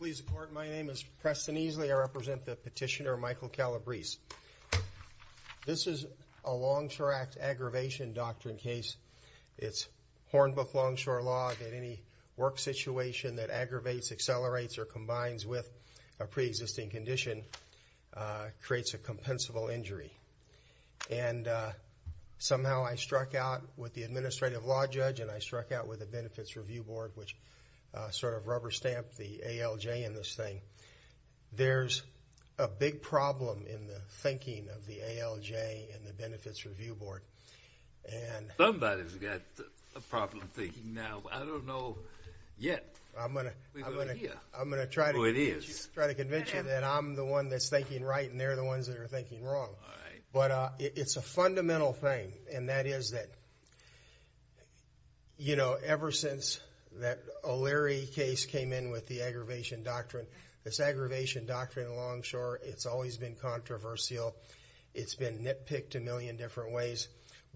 Please report. My name is Preston Easley. I represent the petitioner Michael Calabrese. This is a Longshore Act aggravation doctrine case. It's Hornbook Longshore law that any work situation that aggravates, accelerates, or combines with a pre-existing condition creates a compensable injury. Somehow I struck out with the Administrative Law Judge and I struck out with the Benefits Review Board which sort of rubber-stamped the ALJ in this thing. There's a big problem in the thinking of the ALJ and the Benefits Review Board. Somebody's got a problem thinking now. I don't know yet. I'm going to try to convince you that I'm the one that's thinking right and they're the ones that are thinking wrong. But it's a fundamental thing and that is that, you know, ever since that O'Leary case came in with the aggravation doctrine, this aggravation doctrine of Longshore, it's always been controversial. It's been nitpicked a million different ways.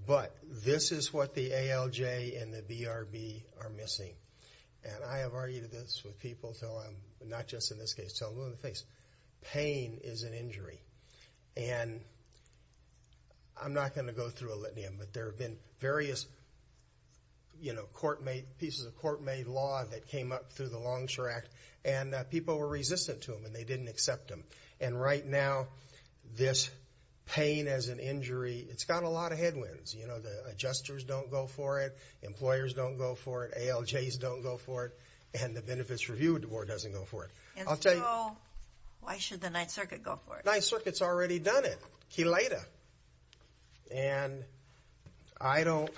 But this is what the ALJ and the BRB are missing. And I have argued this with people not just in this case. Pain is an injury. And I'm not going to go through a litany, but there have been various, you know, court-made pieces of court-made law that came up through the Longshore Act and people were resistant to them and they didn't accept them. And right now, this pain as an injury, it's got a lot of headwinds. You know, the adjusters don't go for it, employers don't go for it, ALJs don't go for it, and the Benefits Review Board doesn't go for it. And so, why should the Ninth Circuit go for it? Ninth Circuit's already done it. Keleda. And I don't...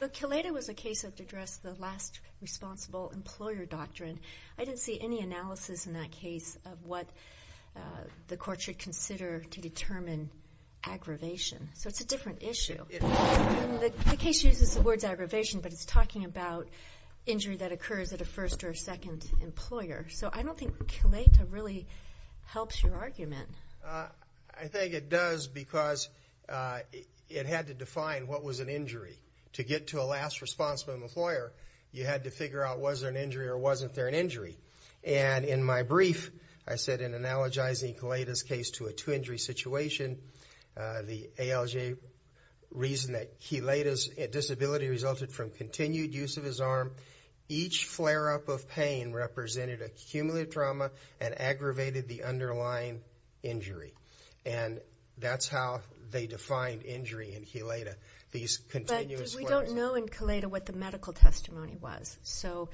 But Keleda was a case that addressed the last responsible employer doctrine. I didn't see any analysis in that case of what the court should consider to determine aggravation. So it's a different issue. The case uses the words aggravation, but it's talking about injury that occurs at a first or a second employer. So I don't think Keleda really helps your argument. I think it does because it had to define what was an injury. To get to a last responsible employer, you had to figure out was there an injury or wasn't there an injury. And in my brief, I said in analogizing Keleda's case to a two-injury situation, the ALJ reason that Keleda's disability resulted from continued use of his arm, each flare-up of pain represented a cumulative trauma and aggravated the underlying injury. And that's how they defined injury in Keleda. But we don't know in Keleda what the medical testimony was. So,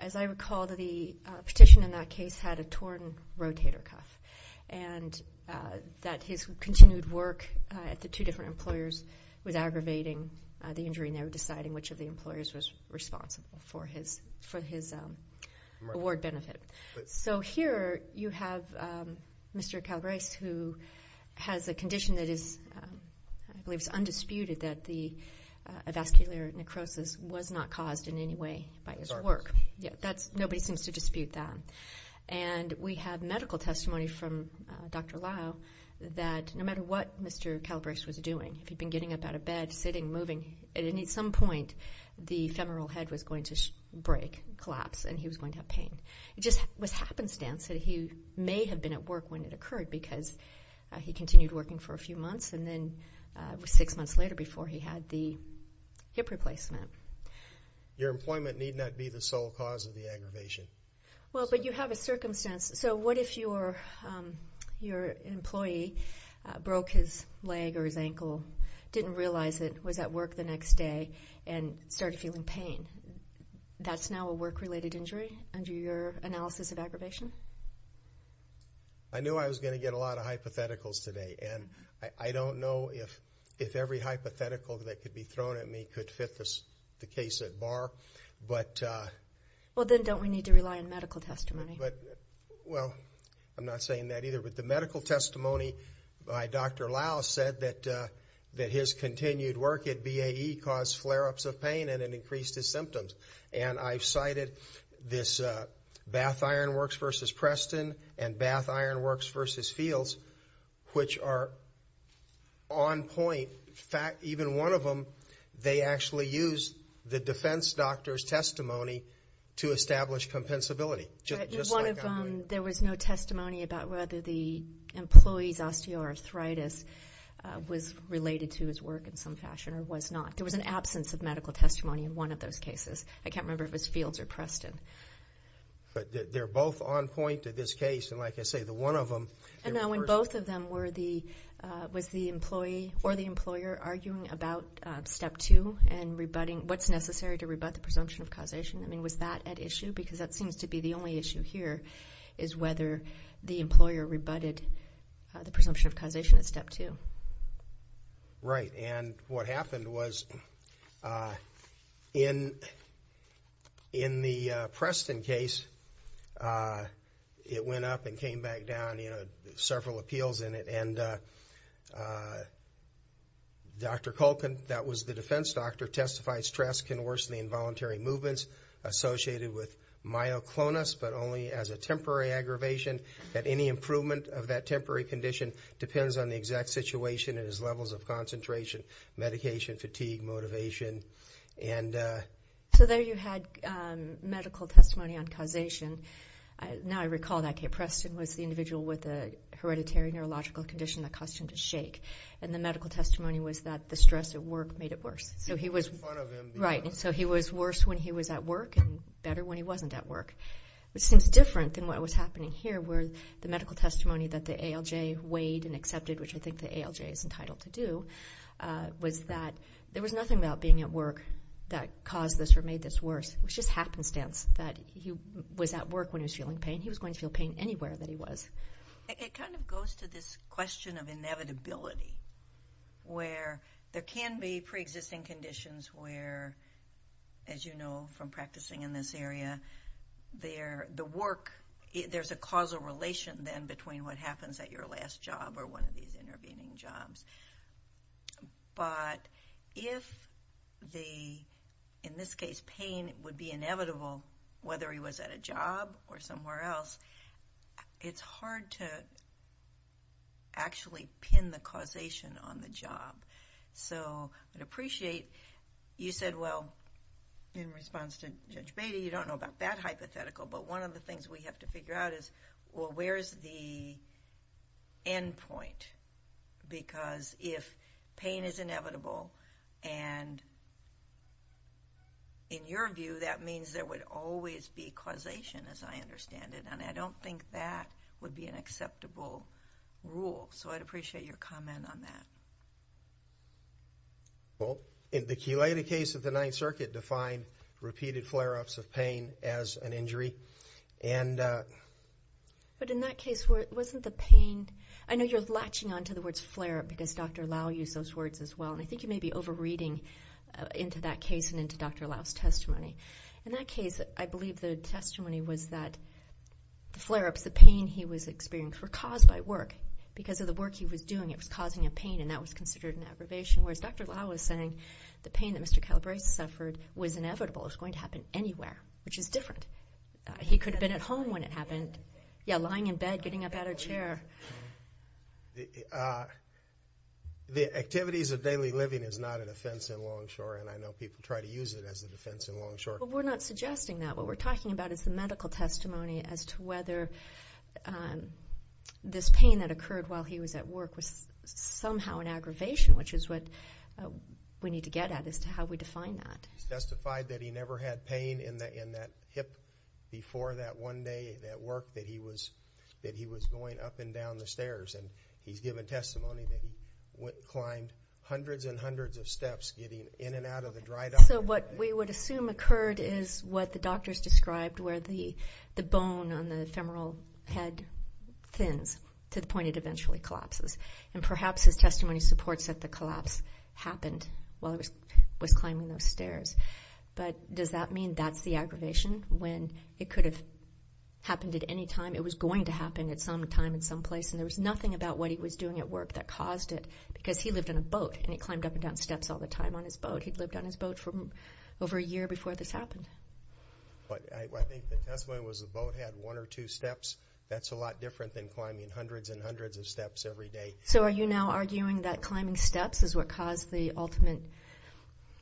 as I recall, the petition in that case had a torn rotator cuff, and that his continued work at the two different employers was aggravating the injury and they were deciding which of the employers was responsible for his award benefit. So here you have Mr. Calabrese who has a condition that is, I believe it's undisputed, that the vascular necrosis was not caused in any way by his work. Nobody seems to dispute that. And we have medical testimony from Dr. Lau that no matter what Mr. Calabrese was doing, if he'd been getting up out of bed, sitting, moving, at some point the femoral head was going to break, collapse, and he was going to have pain. It just was happenstance that he may have been at work when it occurred because he continued working for a few months, and then it was six months later before he had the hip replacement. Your employment need not be the sole cause of the aggravation. Well, but you have a circumstance. So what if your employee broke his leg or his ankle, didn't realize it, was at work the next day, and started feeling pain? That's now a work-related injury under your analysis of aggravation? I knew I was going to get a lot of hypotheticals today, and I don't know if every hypothetical that could be thrown at me could fit the case at bar. Well, then don't we need to rely on medical testimony? Well, I'm not saying that either, but the medical testimony by Dr. Lau said that his continued work at BAE caused flare-ups of pain and it increased his symptoms. And I've cited this Bath Ironworks v. Preston and Bath Ironworks v. Fields, which are on point. Even one of them, they actually used the defense doctor's testimony to establish compensability, just like I'm doing. There was no testimony about whether the employee's osteoarthritis was related to his work in some fashion or was not. There was an absence of medical testimony in one of those cases. I can't remember if it was Fields or Preston. But they're both on point in this case, and like I say, the one of them. And now in both of them, was the employee or the employer arguing about Step 2 and what's necessary to rebut the presumption of causation? I mean, was that at issue? Because that seems to be the only issue here, is whether the employer rebutted the presumption of causation at Step 2. Right, and what happened was in the Preston case, it went up and came back down, you know, several appeals in it. And Dr. Culkin, that was the defense doctor, testified stress can worsen the involuntary movements associated with myoclonus, but only as a temporary aggravation, that any improvement of that temporary condition depends on the exact situation and his levels of concentration, medication, fatigue, motivation. So there you had medical testimony on causation. Now I recall that Preston was the individual with a hereditary neurological condition that caused him to shake. And the medical testimony was that the stress at work made it worse. So he was worse when he was at work and better when he wasn't at work, which seems different than what was happening here, where the medical testimony that the ALJ weighed and accepted, which I think the ALJ is entitled to do, was that there was nothing about being at work that caused this or made this worse. It was just happenstance that he was at work when he was feeling pain. He was going to feel pain anywhere that he was. It kind of goes to this question of inevitability, where there can be preexisting conditions where, as you know from practicing in this area, there's a causal relation then between what happens at your last job or one of these intervening jobs. But if the, in this case, pain would be inevitable, whether he was at a job or somewhere else, it's hard to actually pin the causation on the job. So I'd appreciate you said, well, in response to Judge Beatty, you don't know about that hypothetical, but one of the things we have to figure out is, well, where's the end point? Because if pain is inevitable, and in your view, that means there would always be causation, as I understand it, and I don't think that would be an acceptable rule. So I'd appreciate your comment on that. Well, in the Culetta case of the Ninth Circuit, defined repeated flare-ups of pain as an injury. But in that case, wasn't the pain? I know you're latching onto the words flare-up because Dr. Lau used those words as well, and I think you may be over-reading into that case and into Dr. Lau's testimony. In that case, I believe the testimony was that the flare-ups, the pain he was experiencing, were caused by work. Because of the work he was doing, it was causing a pain, and that was considered an aggravation. Whereas Dr. Lau was saying the pain that Mr. Calabrese suffered was inevitable. It was going to happen anywhere, which is different. He could have been at home when it happened. Yeah, lying in bed, getting up out of a chair. The activities of daily living is not an offense in Longshore, and I know people try to use it as an offense in Longshore. But we're not suggesting that. What we're talking about is the medical testimony as to whether this pain that occurred while he was at work was somehow an aggravation, which is what we need to get at as to how we define that. He testified that he never had pain in that hip before that one day at work that he was going up and down the stairs. And he's given testimony that he climbed hundreds and hundreds of steps getting in and out of the dry dock. So what we would assume occurred is what the doctors described, where the bone on the femoral head thins to the point it eventually collapses. And perhaps his testimony supports that the collapse happened while he was climbing those stairs. But does that mean that's the aggravation when it could have happened at any time? It was going to happen at some time and some place, and there was nothing about what he was doing at work that caused it because he lived in a boat and he climbed up and down steps all the time on his boat. He'd lived on his boat for over a year before this happened. I think the testimony was the boat had one or two steps. That's a lot different than climbing hundreds and hundreds of steps every day. So are you now arguing that climbing steps is what caused the ultimate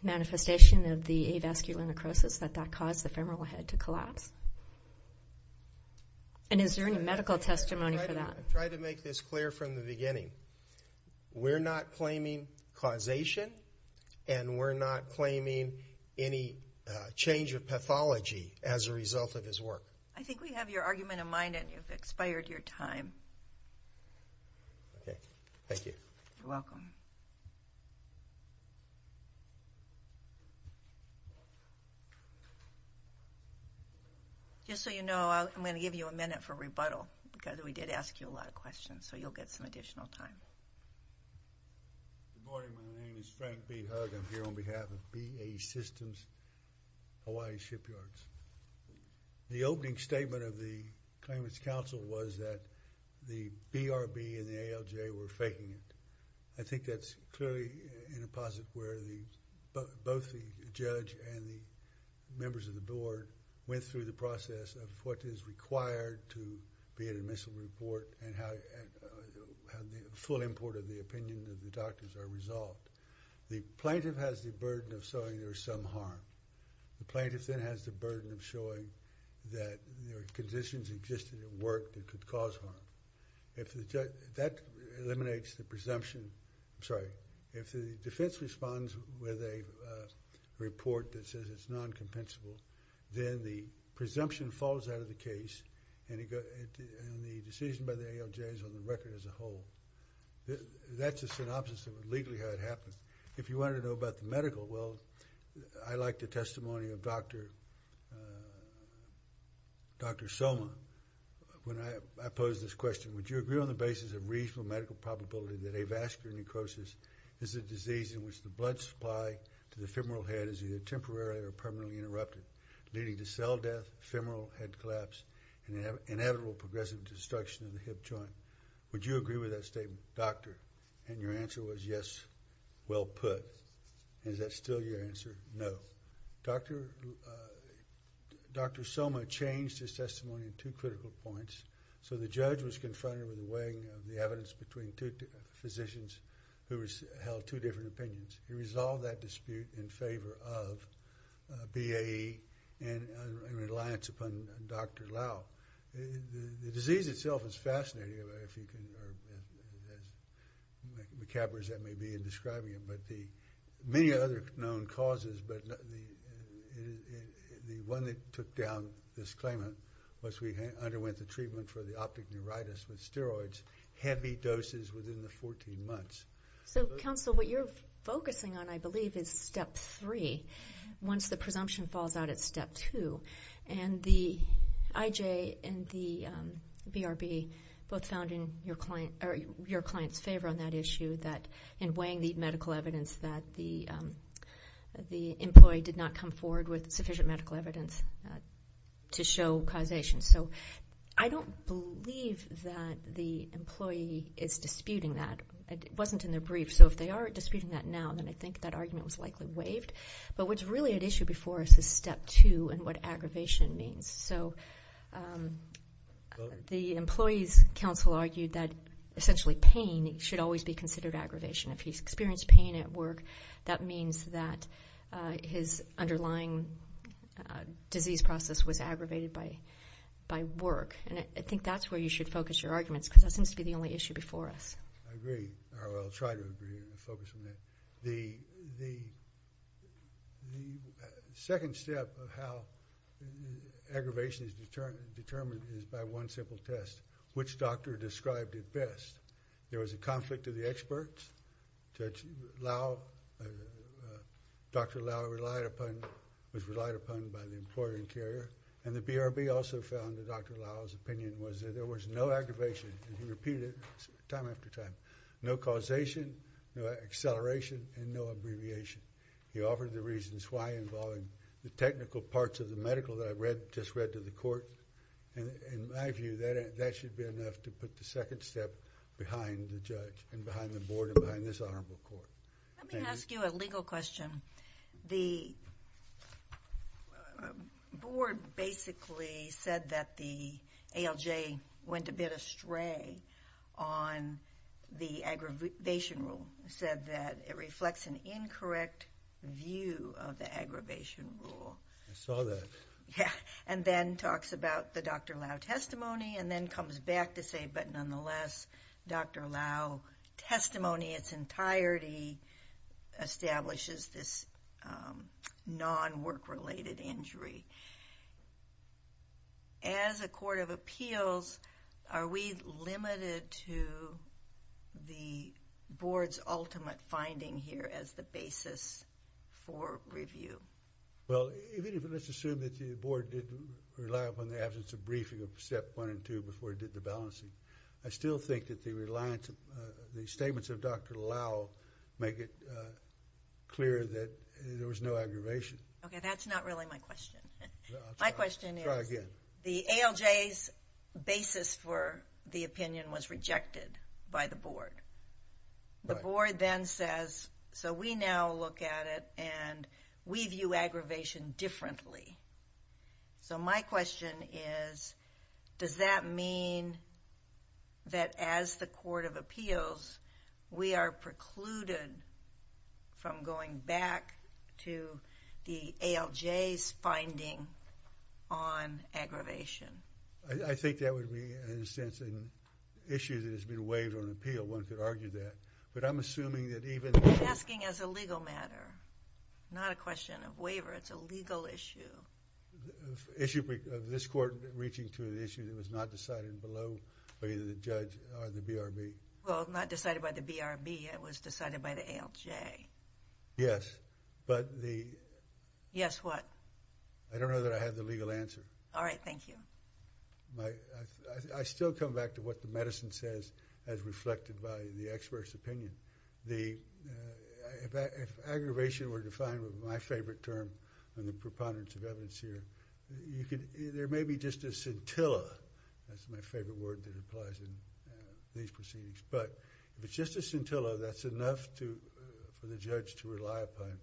manifestation of the avascular necrosis, that that caused the femoral head to collapse? And is there any medical testimony for that? I'll try to make this clear from the beginning. We're not claiming causation, and we're not claiming any change of pathology as a result of his work. I think we have your argument in mind, and you've expired your time. Okay. Thank you. You're welcome. Just so you know, I'm going to give you a minute for rebuttal because we did ask you a lot of questions, so you'll get some additional time. Good morning. My name is Frank B. Hugg. I'm here on behalf of BAE Systems Hawaii Shipyards. The opening statement of the Claimants Council was that the BRB and the ALJ were faking it. I think that's clearly in a posit where both the judge and the members of the board went through the process of what is required to be an admissible report and how the full import of the opinion of the doctors are resolved. The plaintiff has the burden of showing there is some harm. The plaintiff then has the burden of showing that there are conditions existing at work that could cause harm. That eliminates the presumption. I'm sorry. If the defense responds with a report that says it's noncompensable, then the presumption falls out of the case and the decision by the ALJ is on the record as a whole. That's a synopsis of legally how it happened. If you wanted to know about the medical, well, I like the testimony of Dr. Soma when I posed this question. Would you agree on the basis of reasonable medical probability that avascular necrosis is a disease in which the blood supply to the femoral head is either temporary or permanently interrupted, leading to cell death, femoral head collapse, and inevitable progressive destruction of the hip joint? Would you agree with that statement? Doctor? And your answer was yes, well put. Is that still your answer? No. Dr. Soma changed his testimony in two critical points. So the judge was confronted with weighing the evidence between two physicians who held two different opinions. He resolved that dispute in favor of BAE in reliance upon Dr. Lau. The disease itself is fascinating, as macabre as that may be in describing it, but many other known causes, but the one that took down this claimant was we underwent the treatment for the optic neuritis with steroids, heavy doses within the 14 months. So, counsel, what you're focusing on, I believe, is step three. Once the presumption falls out, it's step two. And the IJ and the BRB both found in your client's favor on that issue in weighing the medical evidence that the employee did not come forward with sufficient medical evidence to show causation. So I don't believe that the employee is disputing that. It wasn't in their brief, so if they are disputing that now, then I think that argument was likely waived. But what's really at issue before us is step two and what aggravation means. So the employee's counsel argued that, essentially, pain should always be considered aggravation. If he's experienced pain at work, that means that his underlying disease process was aggravated by work. And I think that's where you should focus your arguments, because that seems to be the only issue before us. I agree. I will try to agree and focus on that. The second step of how aggravation is determined is by one simple test, which doctor described it best. There was a conflict of the experts. Dr. Lau was relied upon by the employer and carrier. And the BRB also found that Dr. Lau's opinion was that there was no aggravation, and he repeated it time after time, no causation, no acceleration, and no abbreviation. He offered the reasons why involving the technical parts of the medical that I just read to the court. In my view, that should be enough to put the second step behind the judge and behind the board and behind this honorable court. Let me ask you a legal question. The board basically said that the ALJ went a bit astray on the aggravation rule. It said that it reflects an incorrect view of the aggravation rule. I saw that. And then talks about the Dr. Lau testimony, and then comes back to say, but nonetheless, Dr. Lau's testimony in its entirety establishes this non-work-related injury. As a court of appeals, are we limited to the board's ultimate finding here as the basis for review? Well, let's assume that the board didn't rely upon the absence of briefing of Step 1 and 2 before it did the balancing. I still think that the statements of Dr. Lau make it clear that there was no aggravation. Okay, that's not really my question. My question is the ALJ's basis for the opinion was rejected by the board. The board then says, so we now look at it, and we view aggravation differently. So my question is, does that mean that as the court of appeals, we are precluded from going back to the ALJ's finding on aggravation? I think that would be, in a sense, an issue that has been waived on appeal. One could argue that. But I'm assuming that even— I'm asking as a legal matter, not a question of waiver. It's a legal issue. Issue of this court reaching to the issue that was not decided below by either the judge or the BRB. Well, not decided by the BRB. It was decided by the ALJ. Yes, but the... Yes, what? I don't know that I have the legal answer. All right, thank you. I still come back to what the medicine says as reflected by the expert's opinion. If aggravation were defined with my favorite term on the preponderance of evidence here, there may be just a scintilla. That's my favorite word that applies in these proceedings. But if it's just a scintilla, that's enough for the judge to rely upon.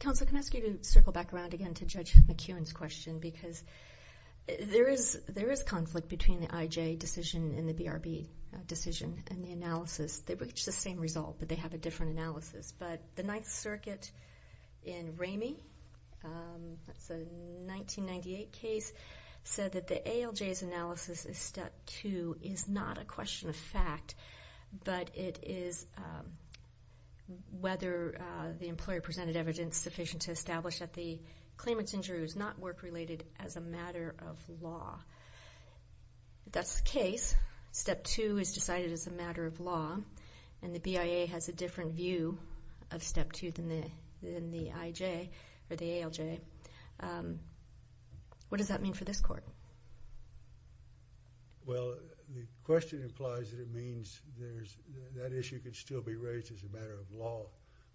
Counsel, can I ask you to circle back around again to Judge McEwen's question? Because there is conflict between the IJ decision and the BRB decision and the analysis. They reach the same result, but they have a different analysis. But the Ninth Circuit in Ramey, that's a 1998 case, said that the ALJ's analysis in Step 2 is not a question of fact, but it is whether the employer presented evidence sufficient to establish that the claimant's injury was not work-related as a matter of law. That's the case. Step 2 is decided as a matter of law, and the BIA has a different view of Step 2 than the IJ or the ALJ. What does that mean for this court? Well, the question implies that it means that issue can still be raised as a matter of law.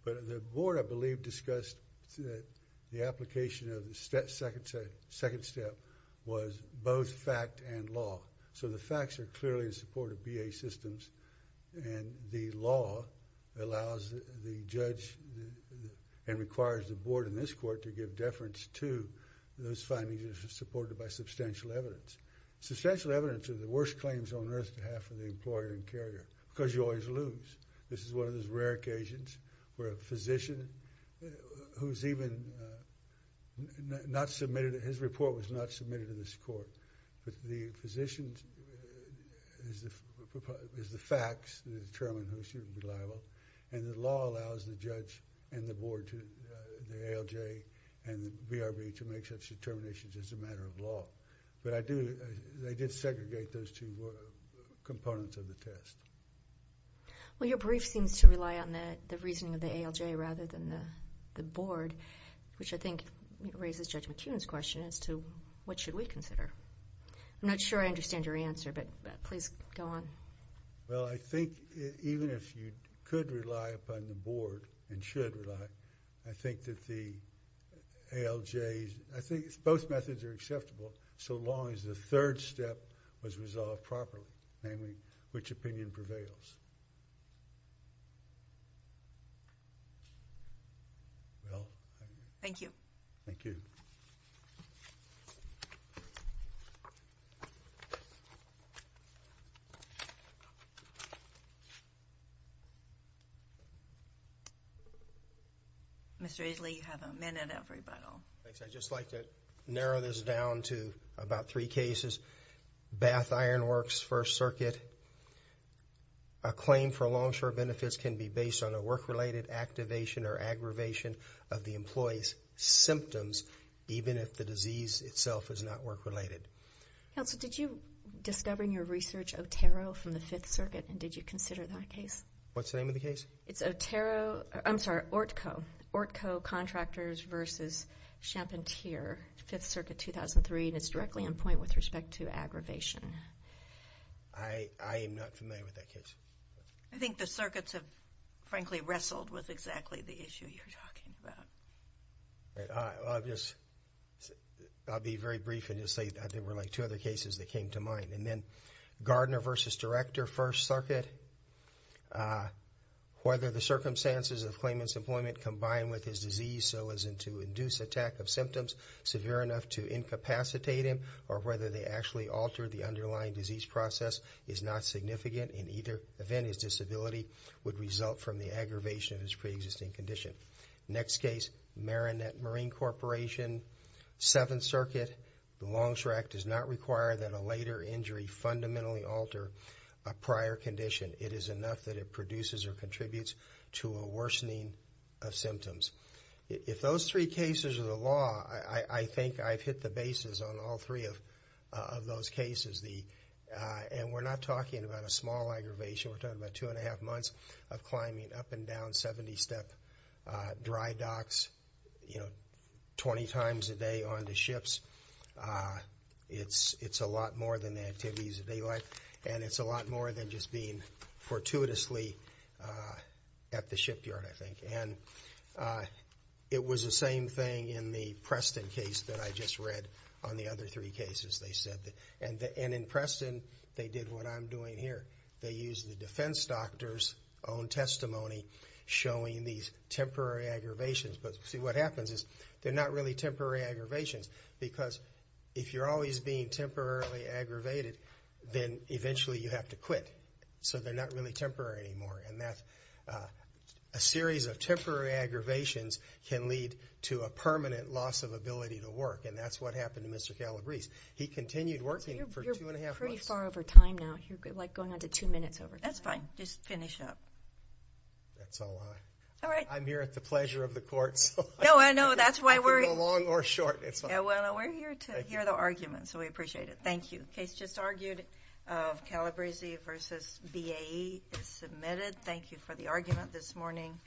But the board, I believe, discussed the application of the second step was both fact and law. So the facts are clearly in support of BIA systems, and the law allows the judge and requires the board in this court to give deference to those findings that are supported by substantial evidence. Substantial evidence is the worst claims on earth to have for the employer and carrier because you always lose. This is one of those rare occasions where a physician who's even not submitted His report was not submitted to this court, but the physician is the facts determined who should be liable, and the law allows the judge and the board, the ALJ and the BRB, to make such determinations as a matter of law. But they did segregate those two components of the test. Well, your brief seems to rely on the reasoning of the ALJ rather than the board, which I think raises Judge McKeon's question as to what should we consider. I'm not sure I understand your answer, but please go on. Well, I think even if you could rely upon the board and should rely, I think that the ALJ, I think both methods are acceptable so long as the third step was resolved properly, namely which opinion prevails. Thank you. Thank you. Mr. Isley, you have a minute, everybody. I'd just like to narrow this down to about three cases. Bath Iron Works, First Circuit. A claim for long-term benefits can be based on a work-related activation or aggravation of the employee's symptoms, even if the disease itself is not work-related. Counsel, did you discover in your research Otero from the Fifth Circuit, and did you consider that case? What's the name of the case? It's Otero, I'm sorry, ORTCO. ORTCO Contractors v. Champentier, Fifth Circuit, 2003, and it's directly in point with respect to aggravation. I am not familiar with that case. I think the circuits have, frankly, wrestled with exactly the issue you're talking about. I'll be very brief and just say there were like two other cases that came to mind. And then Gardner v. Director, First Circuit, whether the circumstances of claimant's employment combined with his disease so as to induce attack of symptoms severe enough to incapacitate him or whether they actually alter the underlying disease process is not significant. In either event, his disability would result from the aggravation of his preexisting condition. Next case, Marinette Marine Corporation, Seventh Circuit. The Longstreet Act does not require that a later injury fundamentally alter a prior condition. It is enough that it produces or contributes to a worsening of symptoms. If those three cases are the law, I think I've hit the bases on all three of those cases. And we're not talking about a small aggravation. We're talking about two and a half months of climbing up and down 70-step dry docks, you know, 20 times a day on the ships. It's a lot more than the activities of day life, and it's a lot more than just being fortuitously at the shipyard, I think. And it was the same thing in the Preston case that I just read on the other three cases they said. And in Preston, they did what I'm doing here. They used the defense doctor's own testimony showing these temporary aggravations. But see, what happens is they're not really temporary aggravations because if you're always being temporarily aggravated, then eventually you have to quit. So they're not really temporary anymore. And that's a series of temporary aggravations can lead to a permanent loss of ability to work, and that's what happened to Mr. Calabrese. He continued working for two and a half months. You're pretty far over time now. You're, like, going on to two minutes over time. That's fine. Just finish up. That's all I am. All right. I'm here at the pleasure of the court. No, I know. That's why we're here. You can go long or short. It's fine. Yeah, well, we're here to hear the arguments, so we appreciate it. Thank you. The case just argued of Calabrese v. BAE is submitted. Thank you for the argument this morning.